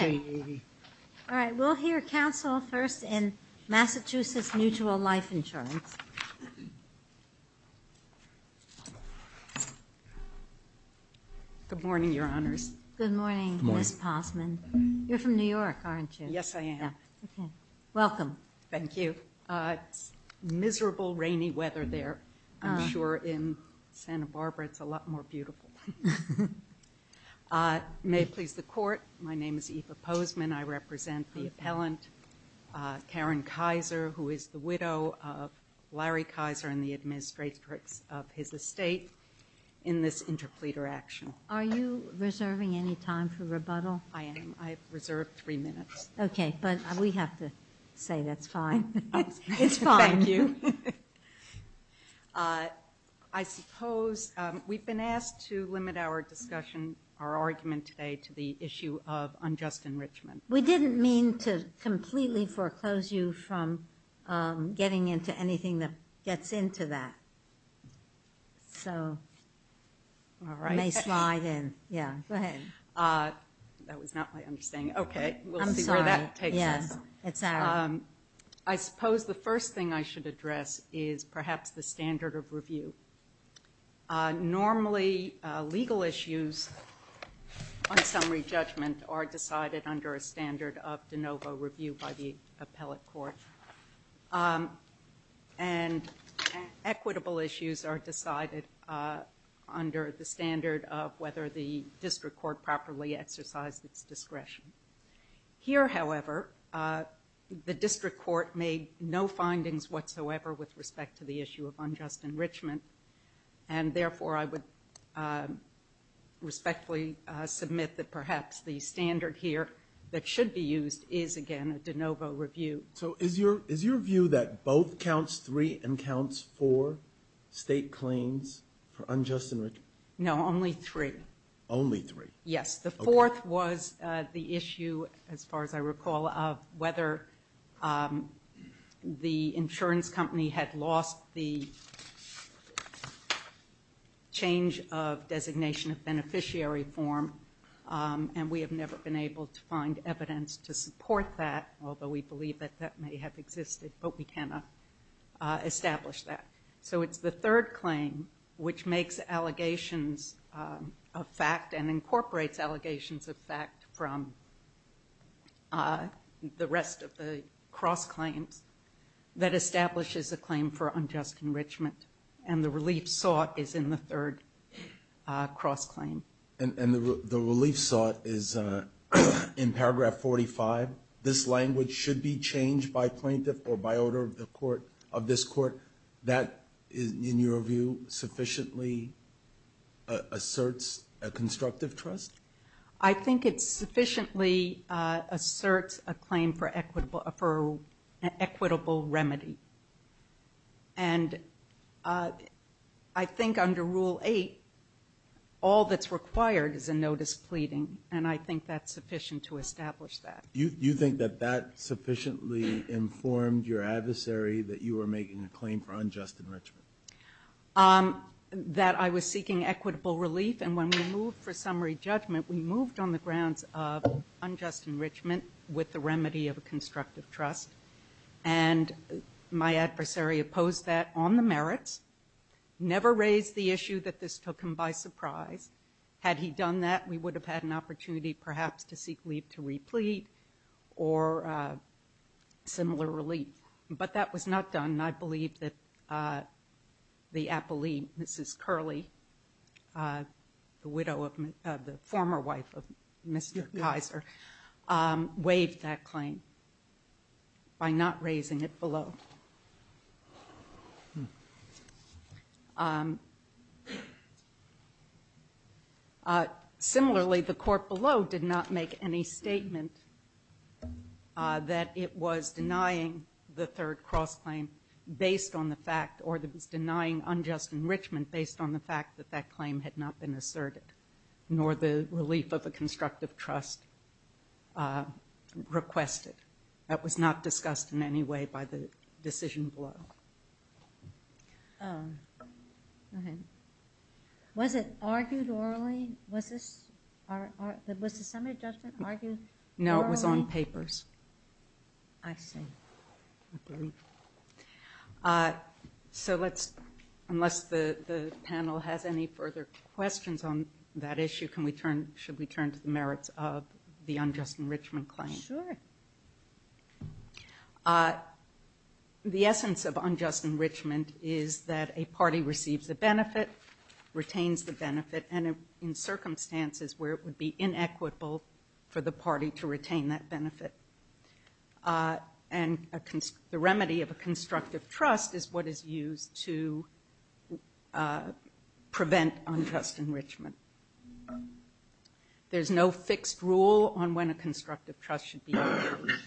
All right, we'll hear counsel first in Massachusetts Mutual Life Insurance. Good morning, Your Honors. Good morning, Ms. Posman. You're from New York, aren't you? Yes, I am. Welcome. Thank you. It's miserable, rainy weather there. I'm sure in Santa Barbara it's a lot more beautiful. May it please the Court, my name is Eva Posman. I represent the appellant, Karen Kaiser, who is the widow of Larry Kaiser and the administratrix of his estate in this interpleader action. Are you reserving any time for rebuttal? I am. I have reserved three minutes. Okay, but we have to say that's fine. It's fine. Thank you. I suppose we've been asked to limit our discussion, our argument today to the issue of unjust enrichment. We didn't mean to completely foreclose you from getting into anything that gets into that. So you may slide in. Yeah, go ahead. That was not my understanding. Okay, we'll see where that takes us. I'm sorry. Yeah, it's out. I suppose the first thing I should address is perhaps the standard of review. Normally legal issues on summary judgment are decided under a standard of de novo review by the appellate court. And equitable issues are decided under the standard of whether the district court properly exercised its discretion. Here, however, the district court made no findings whatsoever with respect to the issue of unjust enrichment. And, therefore, I would respectfully submit that perhaps the standard here that should be used is, again, a de novo review. So is your view that both counts three and counts four state claims for unjust enrichment? No, only three. Only three? Yes. The fourth was the issue, as far as I recall, of whether the insurance company had lost the change of designation of beneficiary form. And we have never been able to find evidence to support that, although we believe that that may have existed. But we cannot establish that. So it's the third claim, which makes allegations a fact and incorporates allegations of fact from the rest of the cross claims, that establishes a claim for unjust enrichment. And the relief sought is in the third cross claim. And the relief sought is in paragraph 45. This language should be changed by plaintiff or by order of this court. That, in your view, sufficiently asserts a constructive trust? I think it sufficiently asserts a claim for equitable remedy. And I think under Rule 8, all that's required is a notice pleading, and I think that's sufficient to establish that. You think that that sufficiently informed your adversary that you were making a claim for unjust enrichment? That I was seeking equitable relief. And when we moved for summary judgment, we moved on the grounds of unjust enrichment with the remedy of a constructive trust, and my adversary opposed that on the merits, never raised the issue that this took him by surprise. Had he done that, we would have had an opportunity, perhaps, to seek leave to replete or similar relief. But that was not done, and I believe that the appellee, Mrs. Curley, the widow of the former wife of Mr. Kaiser, waived that claim by not raising it below. Similarly, the court below did not make any statement that it was denying the third cross-claim based on the fact or that it was denying unjust enrichment based on the fact that that claim had not been asserted, nor the relief of a constructive trust requested. That was not discussed in any way by the decision below. Was it argued orally? Was the summary judgment argued orally? No, it was on papers. I see. Agreed. So unless the panel has any further questions on that issue, should we turn to the merits of the unjust enrichment claim? Sure. The essence of unjust enrichment is that a party receives the benefit, retains the benefit, and in circumstances where it would be inequitable for the party to retain that benefit. And the remedy of a constructive trust is what is used to prevent unjust enrichment. There's no fixed rule on when a constructive trust should be imposed.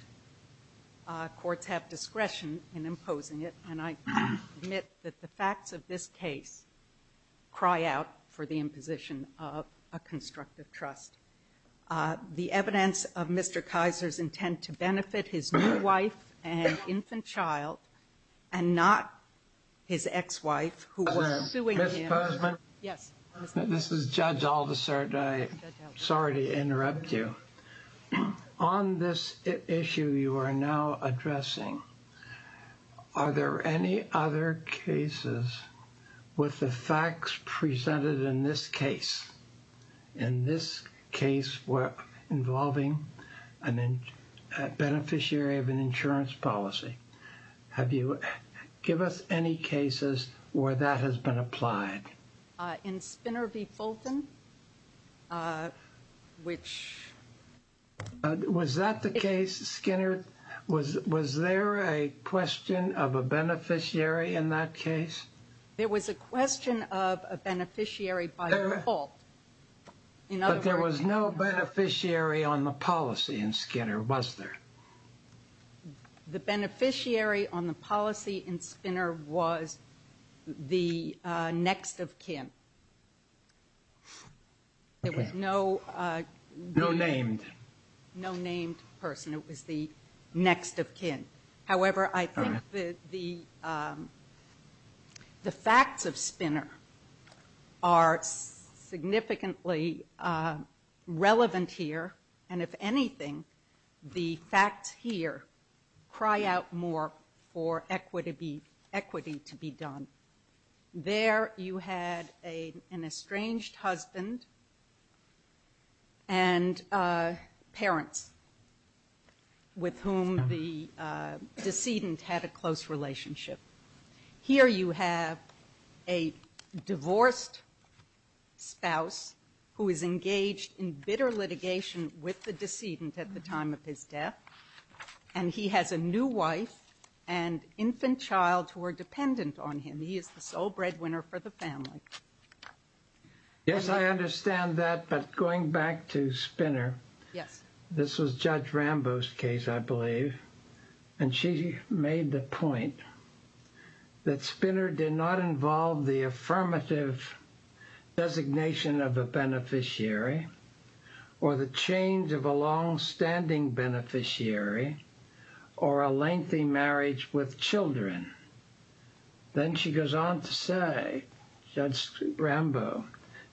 Courts have discretion in imposing it, and I admit that the facts of this case cry out for the imposition of a constructive trust. The evidence of Mr. Kaiser's intent to benefit his new wife and infant child and not his ex-wife, who was suing him. This is Judge Aldisert. I'm sorry to interrupt you. On this issue you are now addressing, are there any other cases with the facts presented in this case? In this case involving a beneficiary of an insurance policy, give us any cases where that has been applied. In Spinner v. Fulton, which... Was that the case, Skinner? Was there a question of a beneficiary in that case? There was a question of a beneficiary by default. But there was no beneficiary on the policy in Skinner, was there? The beneficiary on the policy in Spinner was the next of kin. There was no... No named. No named person. It was the next of kin. However, I think the facts of Spinner are significantly relevant here, and if anything, the facts here cry out more for equity to be done. There you had an estranged husband and parents with whom the decedent had a close relationship. Here you have a divorced spouse who is engaged in bitter litigation with the decedent at the time of his death, and he has a new wife and infant child who are dependent on him. He is the sole breadwinner for the family. Yes, I understand that, but going back to Spinner, this was Judge Rambo's case, I believe, and she made the point that Spinner did not involve the affirmative designation of a beneficiary or the change of a longstanding beneficiary or a lengthy marriage with children. Then she goes on to say, Judge Rambo,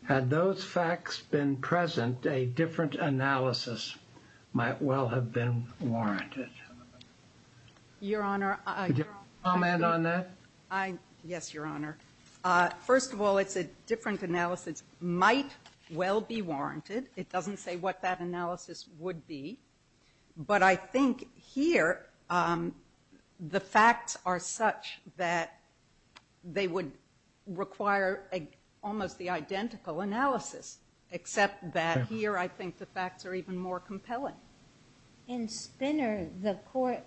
had those facts been present, a different analysis might well have been warranted. Your Honor... Could you comment on that? Yes, Your Honor. First of all, it's a different analysis. It might well be warranted. It doesn't say what that analysis would be, but I think here the facts are such that they would require almost the identical analysis, except that here I think the facts are even more compelling. In Spinner, the court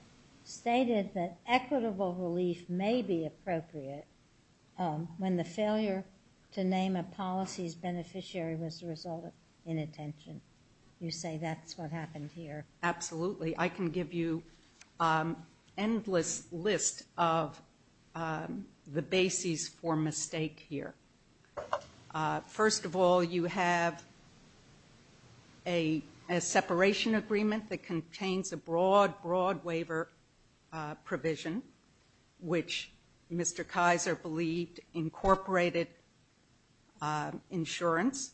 stated that equitable relief may be appropriate when the failure to name a policy's beneficiary was the result of inattention. You say that's what happened here. Absolutely. I can give you an endless list of the bases for mistake here. First of all, you have a separation agreement that contains a broad, broad waiver provision, which Mr. Kaiser believed incorporated insurance,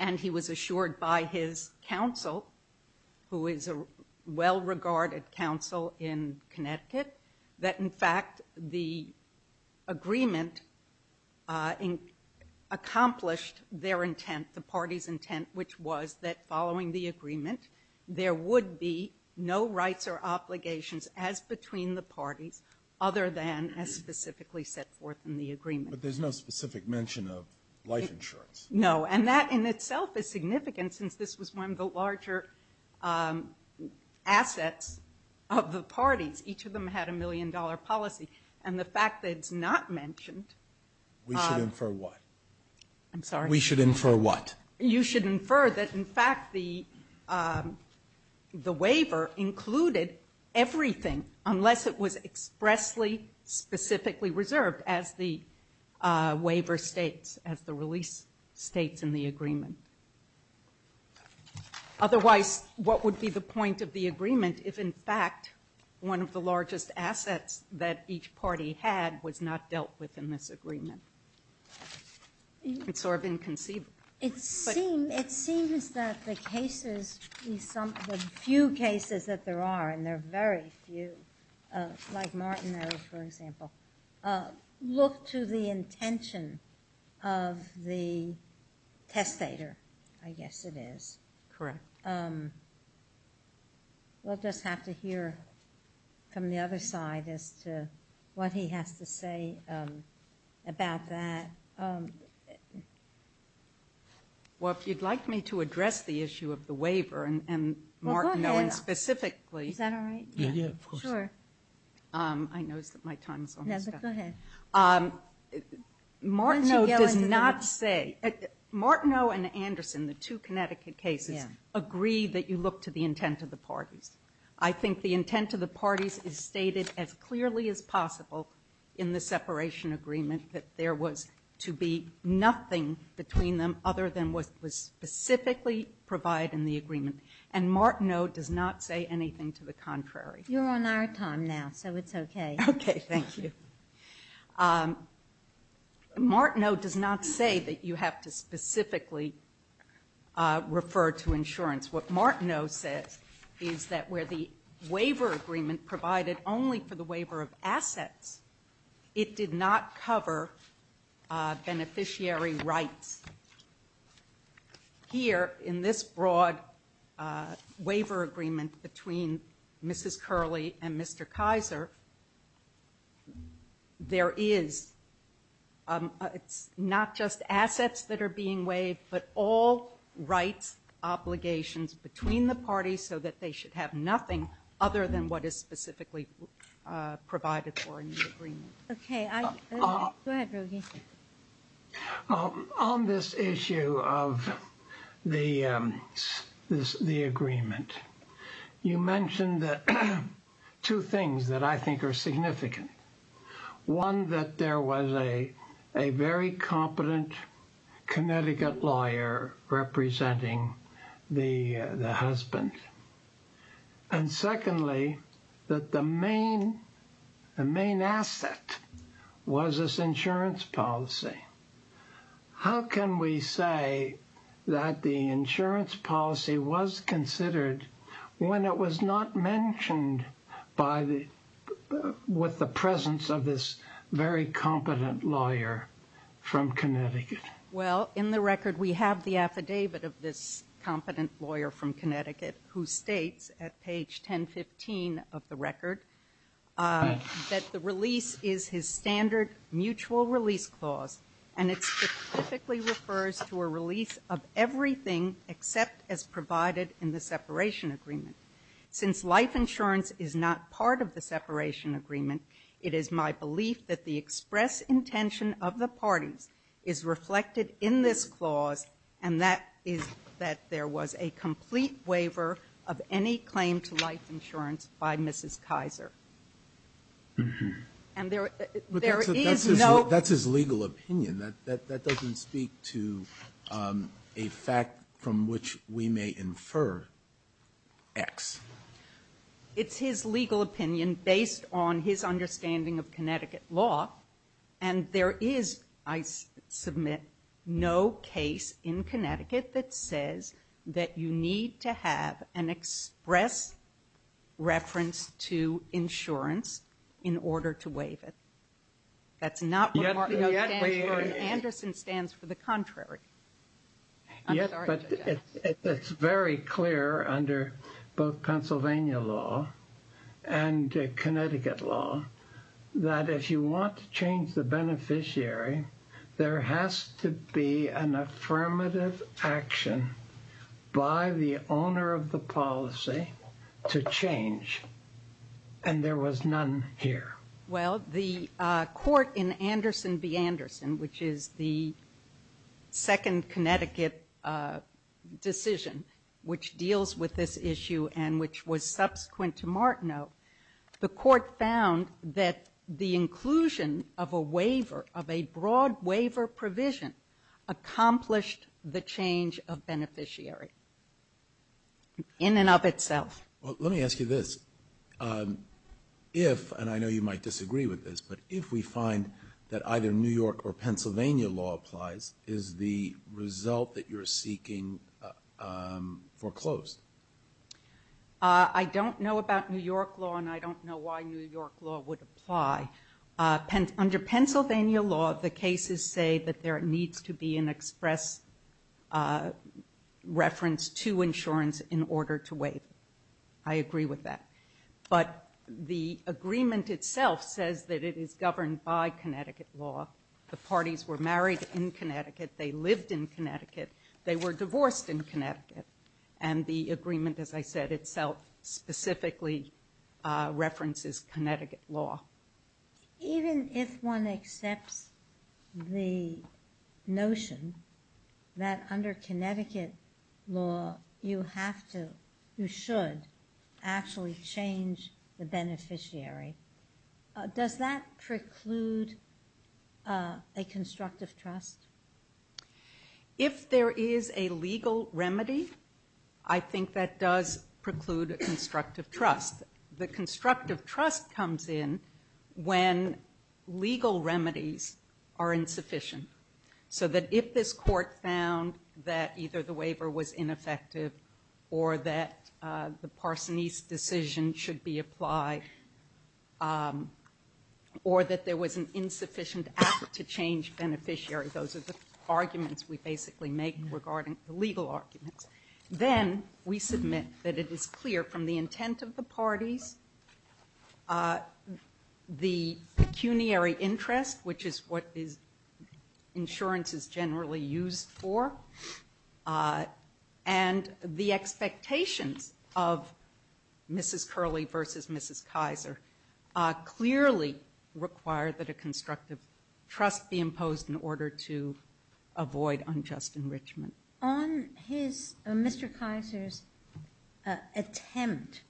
and he was assured by his counsel, who is a well-regarded counsel in Connecticut, that in fact the agreement accomplished their intent, the party's intent, which was that following the agreement, there would be no rights or obligations as between the parties other than as specifically set forth in the agreement. But there's no specific mention of life insurance. No, and that in itself is significant, since this was one of the larger assets of the parties. Each of them had a million-dollar policy, and the fact that it's not mentioned... We should infer what? I'm sorry? We should infer what? You should infer that in fact the waiver included everything, unless it was expressly, specifically reserved, as the waiver states, as the release states in the agreement. Otherwise, what would be the point of the agreement if in fact one of the largest assets that each party had was not dealt with in this agreement? It's sort of inconceivable. It seems that the cases, the few cases that there are, and there are very few, like Martin, for example, look to the intention of the testator, I guess it is. Correct. We'll just have to hear from the other side as to what he has to say about that. Well, if you'd like me to address the issue of the waiver, and Martin Owen specifically... Well, go ahead. Is that all right? Yeah, yeah, of course. Sure. I noticed that my time is almost up. Martin Owen does not say... Why don't you yell into the mic? Martin Owen and Anderson, the two Connecticut cases, agree that you look to the intent of the parties. I think the intent of the parties is stated as clearly as possible in the separation agreement that there was to be nothing between them other than what was specifically provided in the agreement. And Martin Owen does not say anything to the contrary. You're on our time now, so it's okay. Okay, thank you. Martin Owen does not say that you have to specifically refer to insurance. What Martin Owen says is that where the waiver agreement provided only for the waiver of assets, it did not cover beneficiary rights. Here in this broad waiver agreement between Mrs. Curley and Mr. Kaiser, there is not just assets that are being waived, but all rights, obligations between the parties so that they should have nothing other than what is specifically provided for in the agreement. Okay, I... Go ahead, Roger. On this issue of the agreement, you mentioned two things that I think are significant. One, that there was a very competent Connecticut lawyer representing the husband. And secondly, that the main asset was this insurance policy. How can we say that the insurance policy was considered when it was not mentioned with the presence of this very competent lawyer from Connecticut? Well, in the record we have the affidavit of this competent lawyer from Connecticut who states at page 1015 of the record that the release is his standard mutual release clause and it specifically refers to a release of everything except as provided in the separation agreement. Since life insurance is not part of the separation agreement, it is my belief that the express intention of the parties is reflected in this clause and that is that there was a complete waiver of any claim to life insurance by Mrs. Kaiser. And there is no... But that's his legal opinion. That doesn't speak to a fact from which we may infer X. It's his legal opinion based on his understanding of Connecticut law and there is, I submit, no case in Connecticut that says that you need to have an express reference to insurance in order to waive it. That's not what Mark Anderson stands for. The contrary. Yes, but it's very clear under both Pennsylvania law and Connecticut law that if you want to change the beneficiary, there has to be an affirmative action by the owner of the policy to change and there was none here. Well, the court in Anderson v. Anderson, which is the second Connecticut decision which deals with this issue and which was subsequent to Martineau, the court found that the inclusion of a waiver, of a broad waiver provision accomplished the change of beneficiary in and of itself. Well, let me ask you this. If, and I know you might disagree with this, but if we find that either New York or Pennsylvania law applies, is the result that you're seeking foreclosed? I don't know about New York law and I don't know why New York law would apply. Under Pennsylvania law, the cases say that there needs to be an express reference to insurance in order to waive. I agree with that, but the agreement itself says that it is governed by Connecticut law. The parties were married in Connecticut. They lived in Connecticut. They were divorced in Connecticut and the agreement, as I said, itself specifically references Connecticut law. Even if one accepts the notion that under Connecticut law, you have to, you should actually change the beneficiary, does that preclude a constructive trust? If there is a legal remedy, I think that does preclude a constructive trust. The constructive trust comes in when legal remedies are insufficient so that if this court found that either the waiver was ineffective or that the Parsonese decision should be applied or that there was an insufficient act to change beneficiary, those are the arguments we basically make regarding the legal arguments, then we submit that it is clear from the intent of the parties, the pecuniary interest, which is what insurance is generally used for, and the expectations of Mrs. Curley versus Mrs. Kaiser clearly require that a constructive trust be imposed in order to avoid unjust enrichment. On Mr. Kaiser's attempt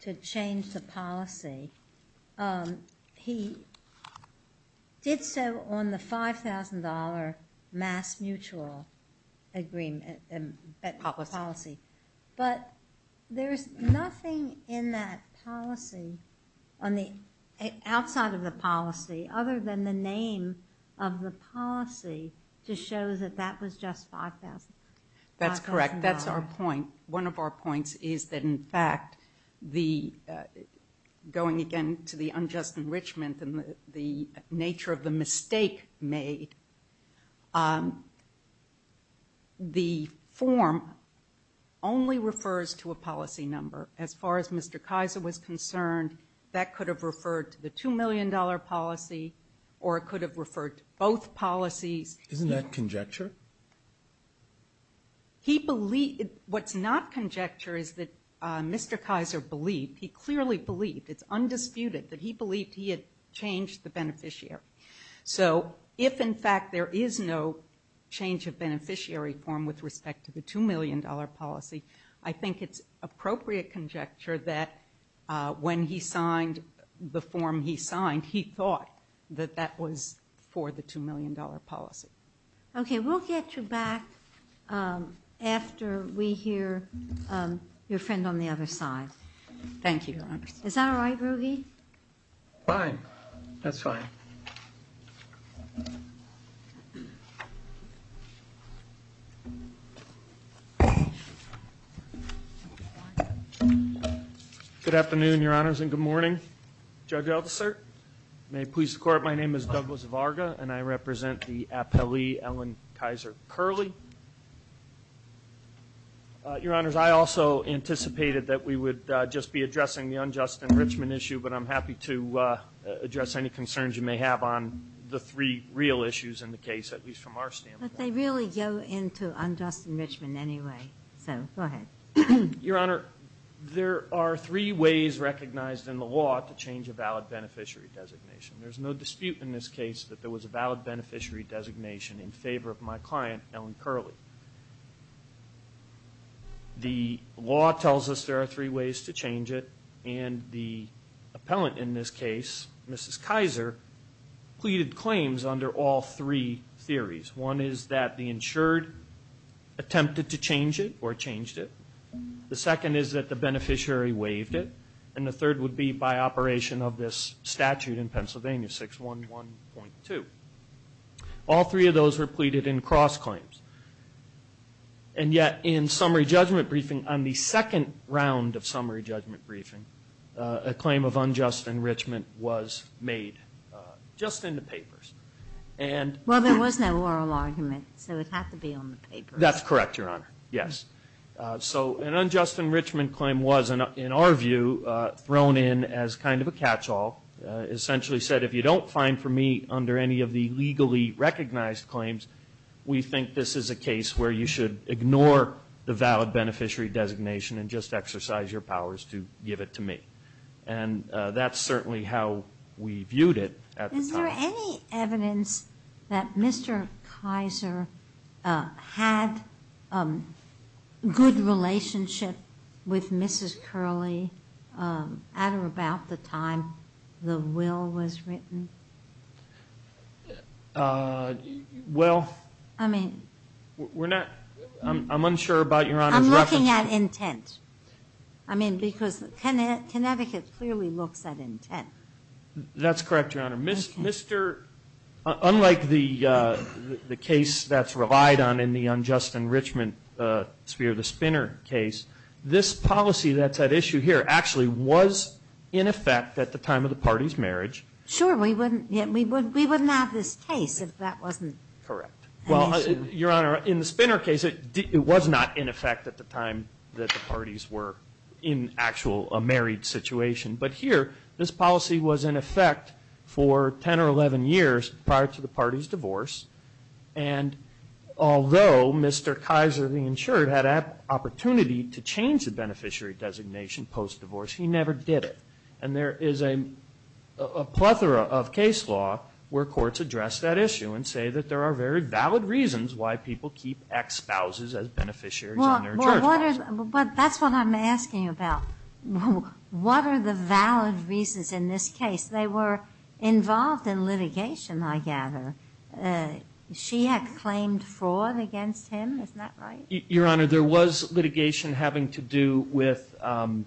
to change the policy, he did so on the $5,000 mass mutual policy, but there is nothing in that policy, outside of the policy, other than the name of the policy, to show that that was just $5,000. That's correct. That's our point. One of our points is that, in fact, going again to the unjust enrichment and the nature of the mistake made, the form only refers to a policy number. As far as Mr. Kaiser was concerned, that could have referred to the $2 million policy or it could have referred to both policies. Isn't that conjecture? What's not conjecture is that Mr. Kaiser believed, he clearly believed, it's undisputed, that he believed he had changed the beneficiary. So if, in fact, there is no change of beneficiary form with respect to the $2 million policy, I think it's appropriate conjecture that when he signed the form he signed, he thought that that was for the $2 million policy. Okay, we'll get you back after we hear your friend on the other side. Thank you. Is that all right, Ruggie? Fine. That's fine. Good afternoon, Your Honors, and good morning. Judge Eldersert, may it please the Court, my name is Douglas Varga and I represent the appellee, Ellen Kaiser Curley. Your Honors, I also anticipated that we would just be addressing the unjust enrichment issue, but I'm happy to address any concerns you may have on the three real issues in the case, at least from our standpoint. But they really go into unjust enrichment anyway, so go ahead. Your Honor, there are three ways recognized in the law to change a valid beneficiary designation. There's no dispute in this case that there was a valid beneficiary designation in favor of my client, Ellen Curley. The law tells us there are three ways to change it, and the appellant in this case, Mrs. Kaiser, pleaded claims under all three theories. One is that the insured attempted to change it or changed it. The second is that the beneficiary waived it. And the third would be by operation of this statute in Pennsylvania, 611.2. All three of those were pleaded in cross claims. And yet in summary judgment briefing, on the second round of summary judgment briefing, a claim of unjust enrichment was made just in the papers. Well, there was no oral argument, so it had to be on the papers. That's correct, Your Honor, yes. So an unjust enrichment claim was, in our view, thrown in as kind of a catch-all, essentially said if you don't find for me under any of the legally recognized claims, we think this is a case where you should ignore the valid beneficiary designation and just exercise your powers to give it to me. And that's certainly how we viewed it at the time. Is there any evidence that Mr. Kaiser had a good relationship with Mrs. Curley at or about the time the will was written? Well, I'm unsure about Your Honor's reference. I'm looking at intent. I mean, because Connecticut clearly looks at intent. That's correct, Your Honor. Unlike the case that's relied on in the unjust enrichment sphere, the Spinner case, this policy that's at issue here actually was in effect at the time of the party's marriage. Sure. We wouldn't have this case if that wasn't an issue. Correct. Well, Your Honor, in the Spinner case, it was not in effect at the time that the parties were in actual a married situation. But here, this policy was in effect for 10 or 11 years prior to the party's divorce. And although Mr. Kaiser, the insured, had an opportunity to change the beneficiary designation post-divorce, he never did it. And there is a plethora of case law where courts address that issue and say that there are very valid reasons why people keep ex-spouses as beneficiaries in their jurisdictions. Well, that's what I'm asking about. What are the valid reasons in this case? They were involved in litigation, I gather. She had claimed fraud against him. Isn't that right? Your Honor, there was litigation having to do with a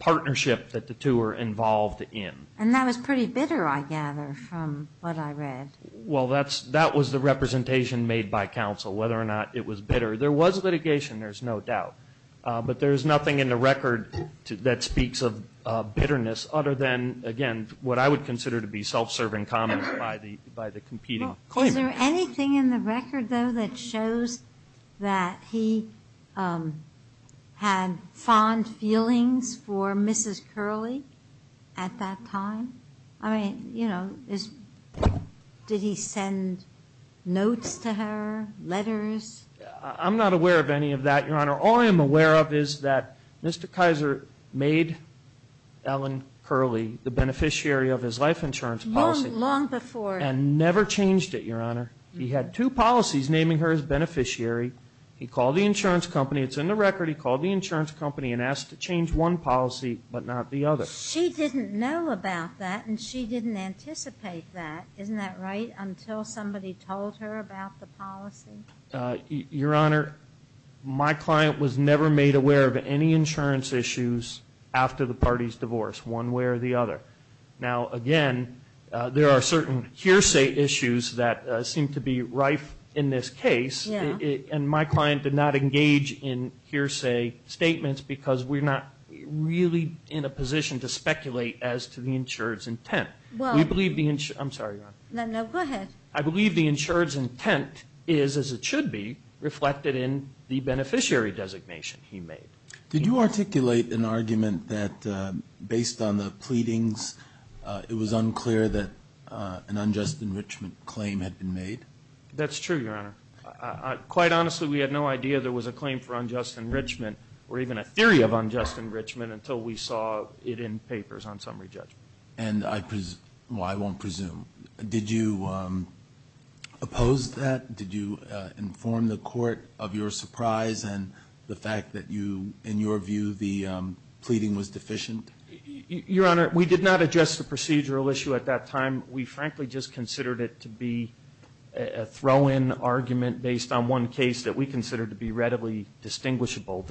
partnership that the two were involved in. And that was pretty bitter, I gather, from what I read. Well, that was the representation made by counsel, whether or not it was bitter. There was litigation, there's no doubt. But there's nothing in the record that speaks of bitterness other than, again, what I would consider to be self-serving comments by the competing claimants. Well, is there anything in the record, though, that shows that he had fond feelings for Mrs. Curley at that time? I mean, you know, did he send notes to her, letters? I'm not aware of any of that, Your Honor. All I am aware of is that Mr. Kaiser made Ellen Curley the beneficiary of his life insurance policy. Long before. And never changed it, Your Honor. He had two policies naming her as beneficiary. He called the insurance company. It's in the record. He called the insurance company and asked to change one policy but not the other. She didn't know about that, and she didn't anticipate that. Isn't that right, until somebody told her about the policy? Your Honor, my client was never made aware of any insurance issues after the party's divorce, one way or the other. Now, again, there are certain hearsay issues that seem to be rife in this case, and my client did not engage in hearsay statements because we're not really in a position to speculate as to the insurer's intent. I'm sorry, Your Honor. No, no, go ahead. I believe the insurer's intent is, as it should be, reflected in the beneficiary designation he made. Did you articulate an argument that, based on the pleadings, it was unclear that an unjust enrichment claim had been made? That's true, Your Honor. Quite honestly, we had no idea there was a claim for unjust enrichment or even a theory of unjust enrichment until we saw it in papers on summary judgment. Well, I won't presume. Did you oppose that? Did you inform the court of your surprise and the fact that, in your view, the pleading was deficient? Your Honor, we did not address the procedural issue at that time. We frankly just considered it to be a throw-in argument based on one case that we considered to be readily distinguishable.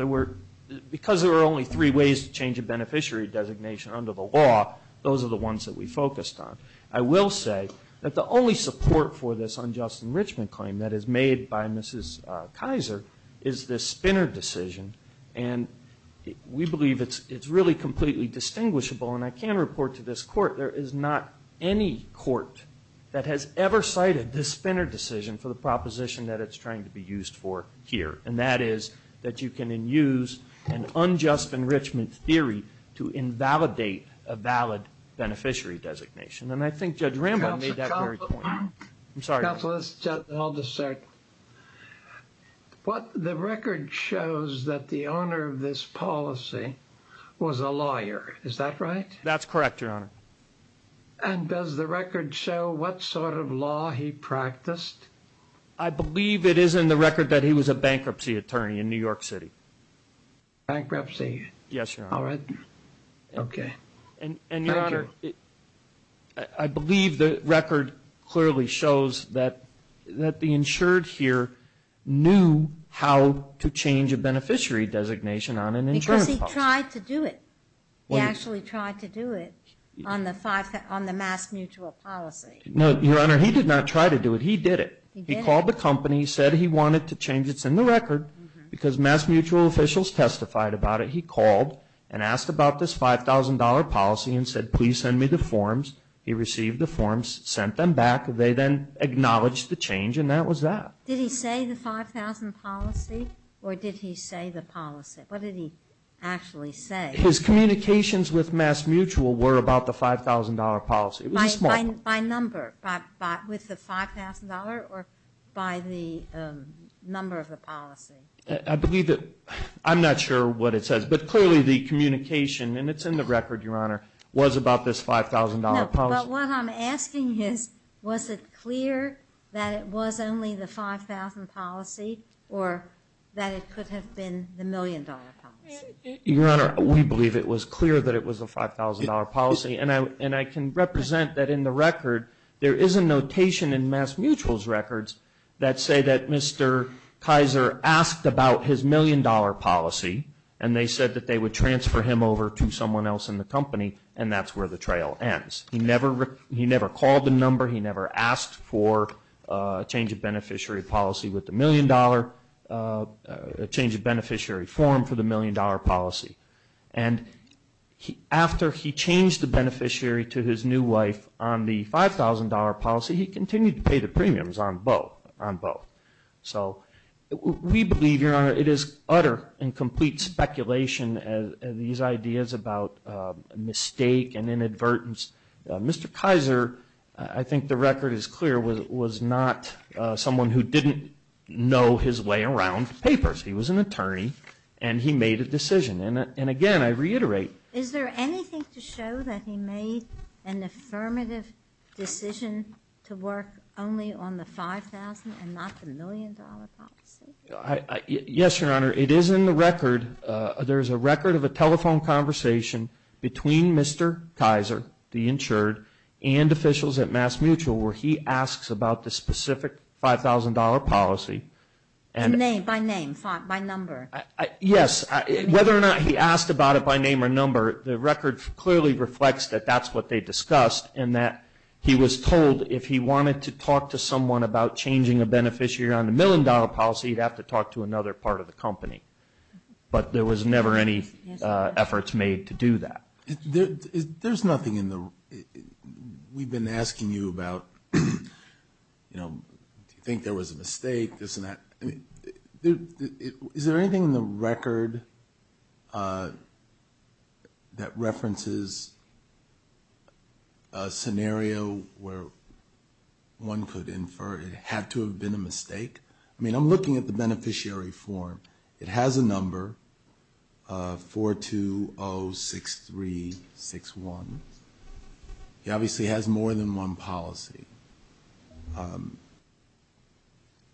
Because there were only three ways to change a beneficiary designation under the law, those are the ones that we focused on. I will say that the only support for this unjust enrichment claim that is made by Mrs. Kaiser is this Spinner decision, and we believe it's really completely distinguishable. And I can report to this Court, there is not any Court that has ever cited this Spinner decision for the proposition that it's trying to be used for here, and that is that you can then use an unjust enrichment theory to invalidate a valid beneficiary designation. And I think Judge Rambo made that very point. Counsel, I'll just start. The record shows that the owner of this policy was a lawyer, is that right? That's correct, Your Honor. And does the record show what sort of law he practiced? I believe it is in the record that he was a bankruptcy attorney in New York City. Bankruptcy? Yes, Your Honor. All right. Okay. And, Your Honor, I believe the record clearly shows that the insured here knew how to change a beneficiary designation on an insurance policy. Because he tried to do it. He actually tried to do it on the mass mutual policy. No, Your Honor, he did not try to do it. He did it. He called the company, said he wanted to change it. It's in the record because mass mutual officials testified about it. He called and asked about this $5,000 policy and said, please send me the forms. He received the forms, sent them back. They then acknowledged the change and that was that. Did he say the $5,000 policy or did he say the policy? What did he actually say? His communications with mass mutual were about the $5,000 policy. It was a small one. By number, with the $5,000 or by the number of the policy? I believe that I'm not sure what it says. But clearly the communication, and it's in the record, Your Honor, was about this $5,000 policy. No, but what I'm asking is, was it clear that it was only the $5,000 policy or that it could have been the million-dollar policy? Your Honor, we believe it was clear that it was a $5,000 policy. And I can represent that in the record there is a notation in mass mutual's records that say that Mr. Kaiser asked about his million-dollar policy and they said that they would transfer him over to someone else in the company and that's where the trail ends. He never called the number. He never asked for a change of beneficiary policy with the million-dollar, a change of beneficiary form for the million-dollar policy. And after he changed the beneficiary to his new wife on the $5,000 policy, he continued to pay the premiums on both. So we believe, Your Honor, it is utter and complete speculation, these ideas about mistake and inadvertence. Mr. Kaiser, I think the record is clear, was not someone who didn't know his way around papers. He was an attorney and he made a decision. And, again, I reiterate. Is there anything to show that he made an affirmative decision to work only on the $5,000 and not the million-dollar policy? Yes, Your Honor. It is in the record. There is a record of a telephone conversation between Mr. Kaiser, the insured, and officials at mass mutual where he asks about the specific $5,000 policy. By name, by number? Yes. Whether or not he asked about it by name or number, the record clearly reflects that that's what they discussed and that he was told if he wanted to talk to someone about changing a beneficiary on the million-dollar policy, he'd have to talk to another part of the company. But there was never any efforts made to do that. There's nothing in the room. We've been asking you about, you know, do you think there was a mistake, this and that. Is there anything in the record that references a scenario where one could infer it had to have been a mistake? I mean, I'm looking at the beneficiary form. It has a number, 4206361. It obviously has more than one policy.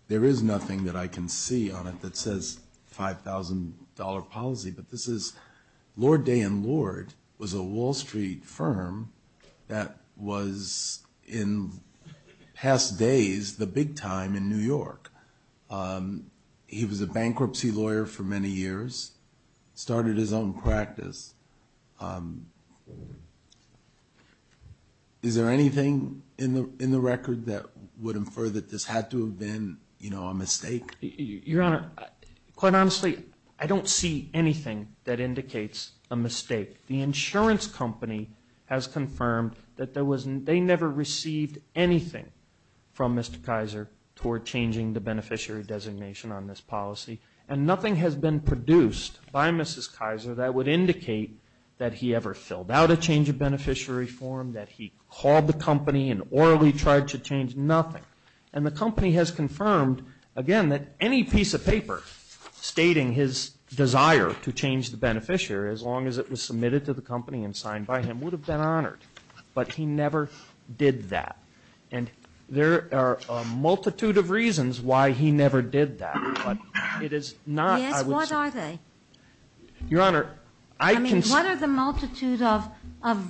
There is nothing that I can see on it that says $5,000 policy, but this is Lord Day and Lord was a Wall Street firm that was in past days the big time in New York. He was a bankruptcy lawyer for many years, started his own practice. Is there anything in the record that would infer that this had to have been, you know, a mistake? Your Honor, quite honestly, I don't see anything that indicates a mistake. The insurance company has confirmed that they never received anything from Mr. Kaiser toward changing the beneficiary designation on this policy, and nothing has been produced by Mrs. Kaiser that would indicate that he ever filled out a change of beneficiary form, that he called the company and orally tried to change nothing. And the company has confirmed, again, that any piece of paper stating his desire to change the beneficiary, as long as it was submitted to the company and signed by him, would have been honored. But he never did that. And there are a multitude of reasons why he never did that, but it is not, I would say. Yes, what are they? Your Honor, I can say. I mean, what are the multitude of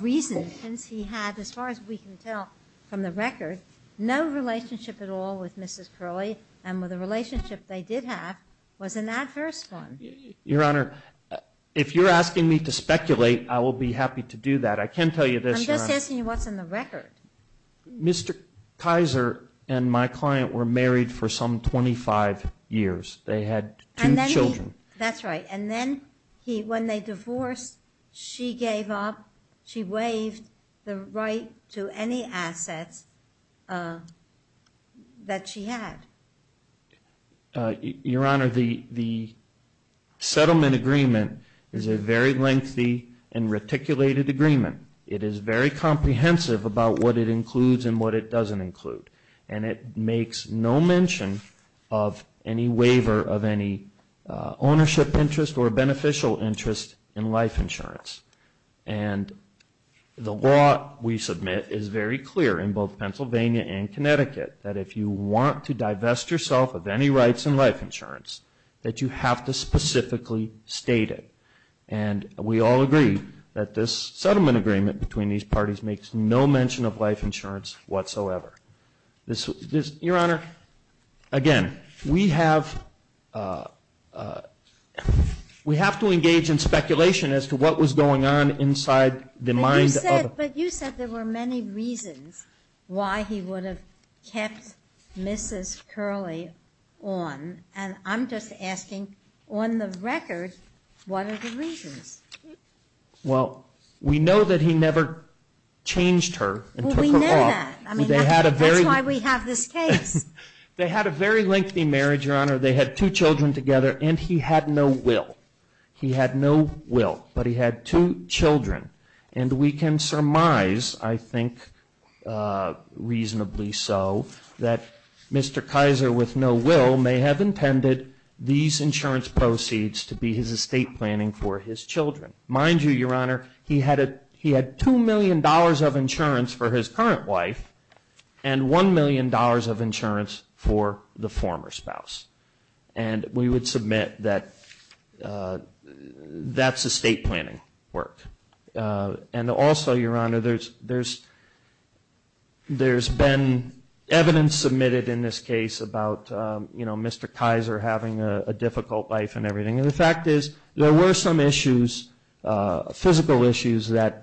reasons since he had, as far as we can tell from the record, no relationship at all with Mrs. Crowley and with the relationship they did have was an adverse one. Your Honor, if you're asking me to speculate, I will be happy to do that. I can tell you this, Your Honor. I'm just asking you what's in the record. Mr. Kaiser and my client were married for some 25 years. They had two children. That's right. And then when they divorced, she gave up, she waived the right to any assets that she had. Your Honor, the settlement agreement is a very lengthy and reticulated agreement. It is very comprehensive about what it includes and what it doesn't include. And it makes no mention of any waiver of any ownership interest or beneficial interest in life insurance. And the law we submit is very clear in both Pennsylvania and Connecticut that if you want to divest yourself of any rights in life insurance, that you have to specifically state it. And we all agree that this settlement agreement between these parties makes no mention of life insurance whatsoever. Your Honor, again, we have to engage in speculation as to what was going on inside the mind of But you said there were many reasons why he would have kept Mrs. Crowley on. And I'm just asking, on the record, what are the reasons? Well, we know that he never changed her and took her off. Well, we know that. That's why we have this case. They had a very lengthy marriage, Your Honor. They had two children together, and he had no will. He had no will, but he had two children. And we can surmise, I think, reasonably so, that Mr. Kaiser, with no will, may have intended these insurance proceeds to be his estate planning for his children. Mind you, Your Honor, he had $2 million of insurance for his current wife and $1 million of insurance for the former spouse. And we would submit that that's estate planning work. And also, Your Honor, there's been evidence submitted in this case about, you know, Mr. Kaiser having a difficult life and everything. And the fact is there were some issues, physical issues, that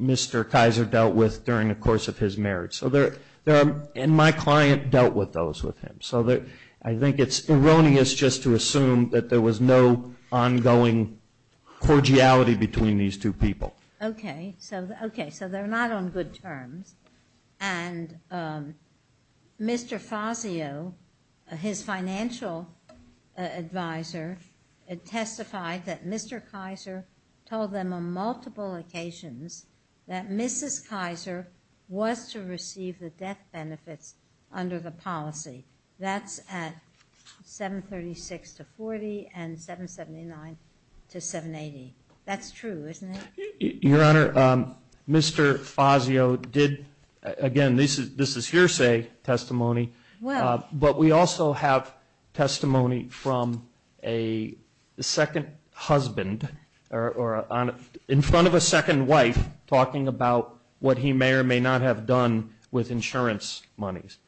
Mr. Kaiser dealt with during the course of his marriage. And my client dealt with those with him. So I think it's erroneous just to assume that there was no ongoing cordiality between these two people. Okay. So they're not on good terms. And Mr. Fazio, his financial advisor, testified that Mr. Kaiser told them on multiple occasions that Mrs. Kaiser was to receive the death benefits under the policy. That's at 736 to 40 and 779 to 780. That's true, isn't it? Your Honor, Mr. Fazio did, again, this is hearsay testimony. Well. But we also have testimony from a second husband, in front of a second wife, talking about what he may or may not have done with insurance monies.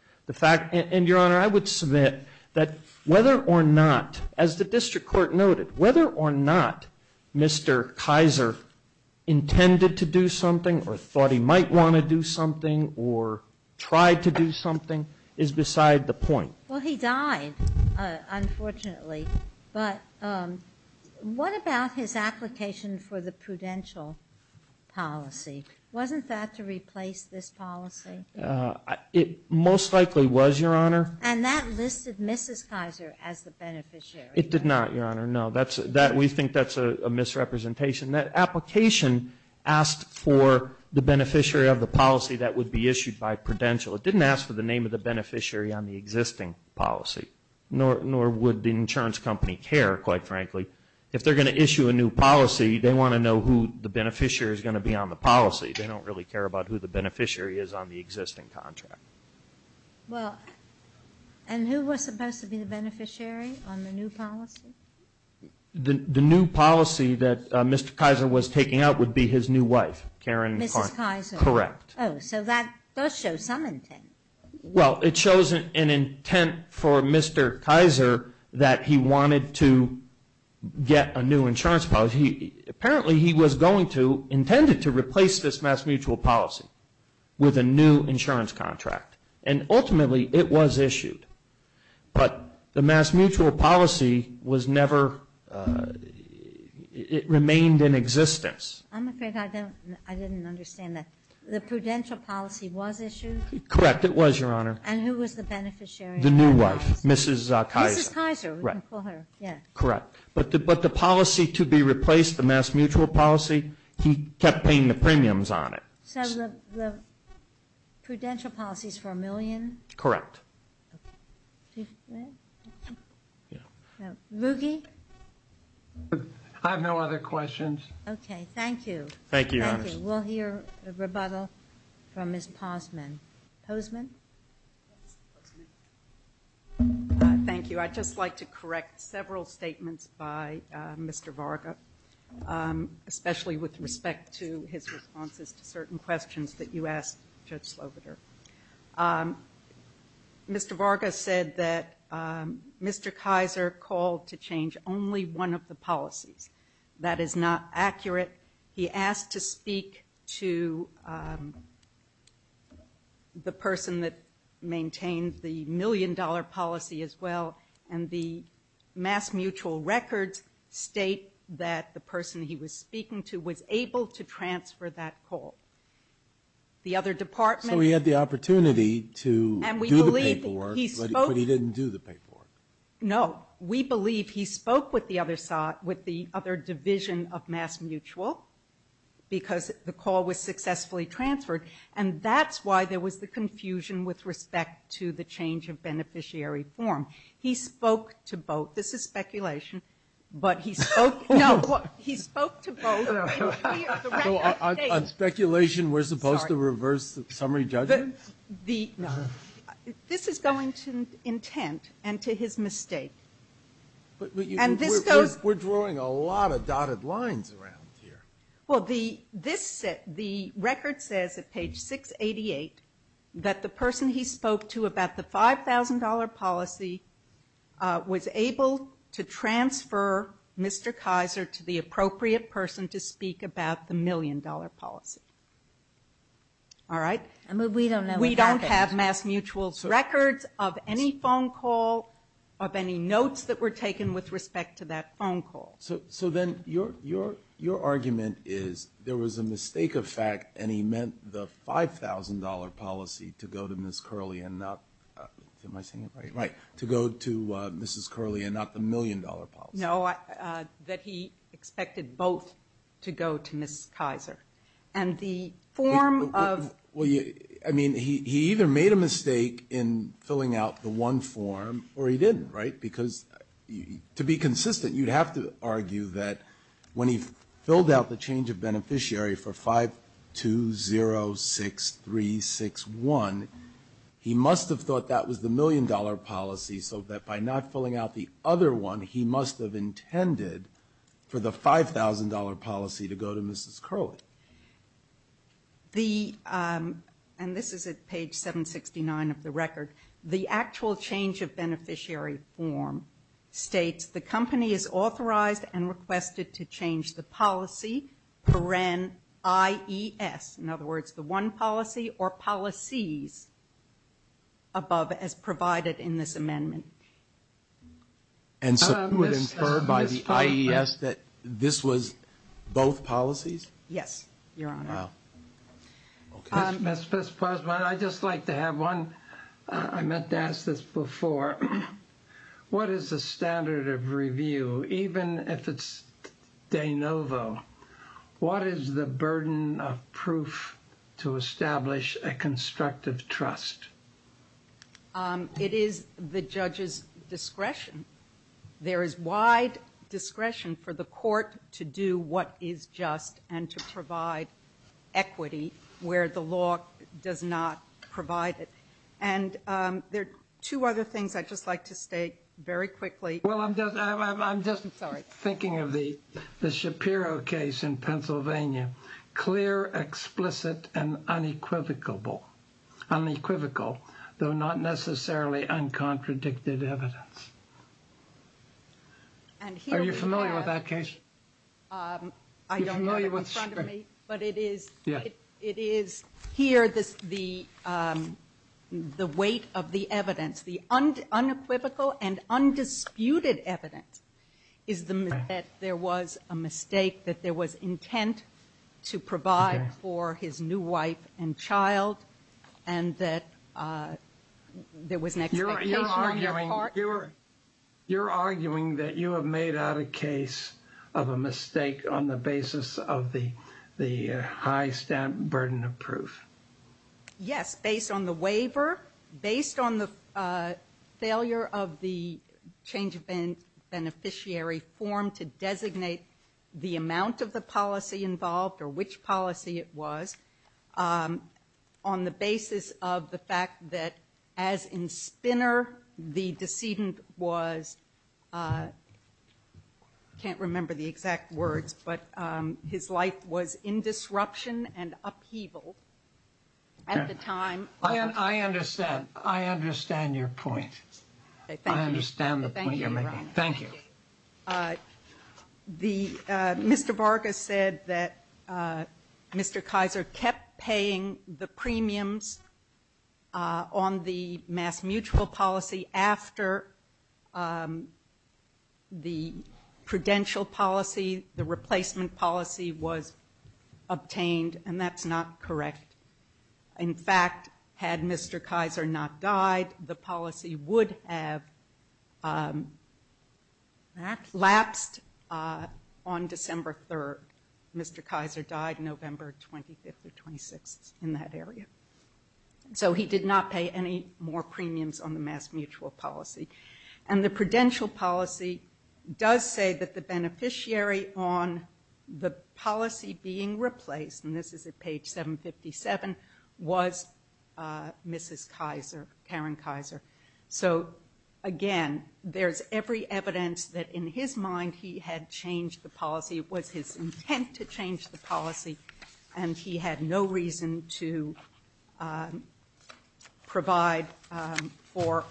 And, Your Honor, I would submit that whether or not, as the district court noted, whether or not Mr. Kaiser intended to do something or thought he might want to do something or tried to do something is beside the point. Well, he died, unfortunately. But what about his application for the prudential policy? Wasn't that to replace this policy? It most likely was, Your Honor. And that listed Mrs. Kaiser as the beneficiary. It did not, Your Honor, no. We think that's a misrepresentation. That application asked for the beneficiary of the policy that would be issued by prudential. It didn't ask for the name of the beneficiary on the existing policy, nor would the insurance company care, quite frankly. If they're going to issue a new policy, they want to know who the beneficiary is going to be on the policy. They don't really care about who the beneficiary is on the existing contract. Well, and who was supposed to be the beneficiary on the new policy? The new policy that Mr. Kaiser was taking out would be his new wife, Karen. Mrs. Kaiser. Correct. Oh, so that does show some intent. Well, it shows an intent for Mr. Kaiser that he wanted to get a new insurance policy. Apparently he was going to, intended to replace this mass mutual policy with a new insurance contract. And ultimately it was issued. But the mass mutual policy was never, it remained in existence. I'm afraid I didn't understand that. The prudential policy was issued? Correct. It was, Your Honor. And who was the beneficiary? The new wife, Mrs. Kaiser. Mrs. Kaiser, we can call her. Correct. But the policy to be replaced, the mass mutual policy, he kept paying the premiums on it. So the prudential policy is for a million? Correct. Ruggie? I have no other questions. Okay. Thank you. Thank you, Your Honor. Thank you. We'll hear a rebuttal from Ms. Posman. Posman? Thank you. I'd just like to correct several statements by Mr. Varga, especially with respect to his responses to certain questions that you asked Judge Sloboder. Mr. Varga said that Mr. Kaiser called to change only one of the policies. That is not accurate. He asked to speak to the person that maintained the million-dollar policy as well, and the mass mutual records state that the person he was speaking to was able to transfer that call. The other department. So he had the opportunity to do the paperwork, but he didn't do the paperwork. No. We believe he spoke with the other division of mass mutual because the call was successfully transferred, and that's why there was the confusion with respect to the change of beneficiary form. He spoke to both. This is speculation, but he spoke to both. On speculation, we're supposed to reverse the summary judgment? No. This is going to intent and to his mistake. We're drawing a lot of dotted lines around here. Well, the record says at page 688 that the person he spoke to about the $5,000 policy was able to transfer Mr. Kaiser to the appropriate person to speak about the million-dollar policy. All right? We don't know. We don't have mass mutual records of any phone call, of any notes that were taken with respect to that phone call. So then your argument is there was a mistake of fact, and he meant the $5,000 policy to go to Mrs. Curley and not the million-dollar policy. No, that he expected both to go to Ms. Kaiser. And the form of – Well, I mean, he either made a mistake in filling out the one form or he didn't, right? Because to be consistent, you'd have to argue that when he filled out the change of beneficiary for 5206361, he must have thought that was the million-dollar policy, so that by not filling out the other one, he must have intended for the $5,000 policy to go to Mrs. Curley. The – and this is at page 769 of the record. The actual change of beneficiary form states the company is authorized and requested to change the policy, IES. In other words, the one policy or policies above as provided in this amendment. And so it was inferred by the IES that this was both policies? Yes, Your Honor. Wow. Okay. Mr. Postman, I'd just like to have one – I meant to ask this before. What is the standard of review, even if it's de novo? What is the burden of proof to establish a constructive trust? It is the judge's discretion. There is wide discretion for the court to do what is just and to provide equity where the law does not provide it. And there are two other things I'd just like to state very quickly. Well, I'm just – I'm just thinking of the Shapiro case in Pennsylvania. Clear, explicit, and unequivocal, though not necessarily uncontradicted evidence. Are you familiar with that case? I don't have it in front of me. But it is – it is here the weight of the evidence. The unequivocal and undisputed evidence is that there was a mistake, that there was intent to provide for his new wife and child, and that there was an expectation on their part. You're arguing that you have made out a case of a mistake on the basis of the high stamp burden of proof. Yes, based on the waiver, based on the failure of the change of beneficiary form to designate the amount of the policy involved or which policy it was, on the basis of the fact that, as in Spinner, the decedent was – can't remember the exact words, but his life was in disruption and upheaval at the time. I understand. I understand your point. I understand the point you're making. Thank you. Thank you. The – Mr. Vargas said that Mr. Kaiser kept paying the premiums on the mass mutual policy after the prudential policy, the replacement policy, was obtained, and that's not correct. In fact, had Mr. Kaiser not died, the policy would have lapsed on December 3rd. Mr. Kaiser died November 25th or 26th in that area. So he did not pay any more premiums on the mass mutual policy. And the prudential policy does say that the beneficiary on the policy being replaced, and this is at page 757, was Mrs. Kaiser, Karen Kaiser. So, again, there's every evidence that in his mind he had changed the policy. It was his intent to change the policy, and he had no reason to provide for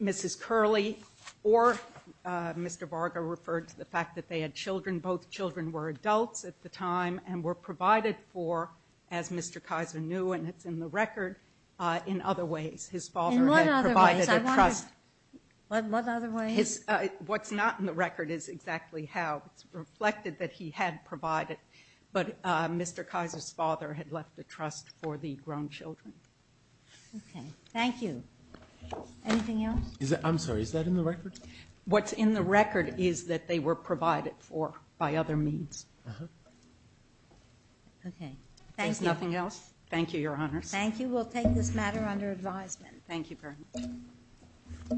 Mrs. Curley or Mr. Vargas referred to the fact that they had children. Both children were adults at the time and were provided for, as Mr. Kaiser knew, and it's in the record, in other ways. His father had provided a trust. In what other ways? What other ways? What's not in the record is exactly how. It's reflected that he had provided, but Mr. Kaiser's father had left the trust for the grown children. Okay. Thank you. Anything else? I'm sorry. Is that in the record? What's in the record is that they were provided for by other means. Uh-huh. Okay. Thank you. If there's nothing else, thank you, Your Honors. Thank you. We'll take this matter under advisement. Thank you very much.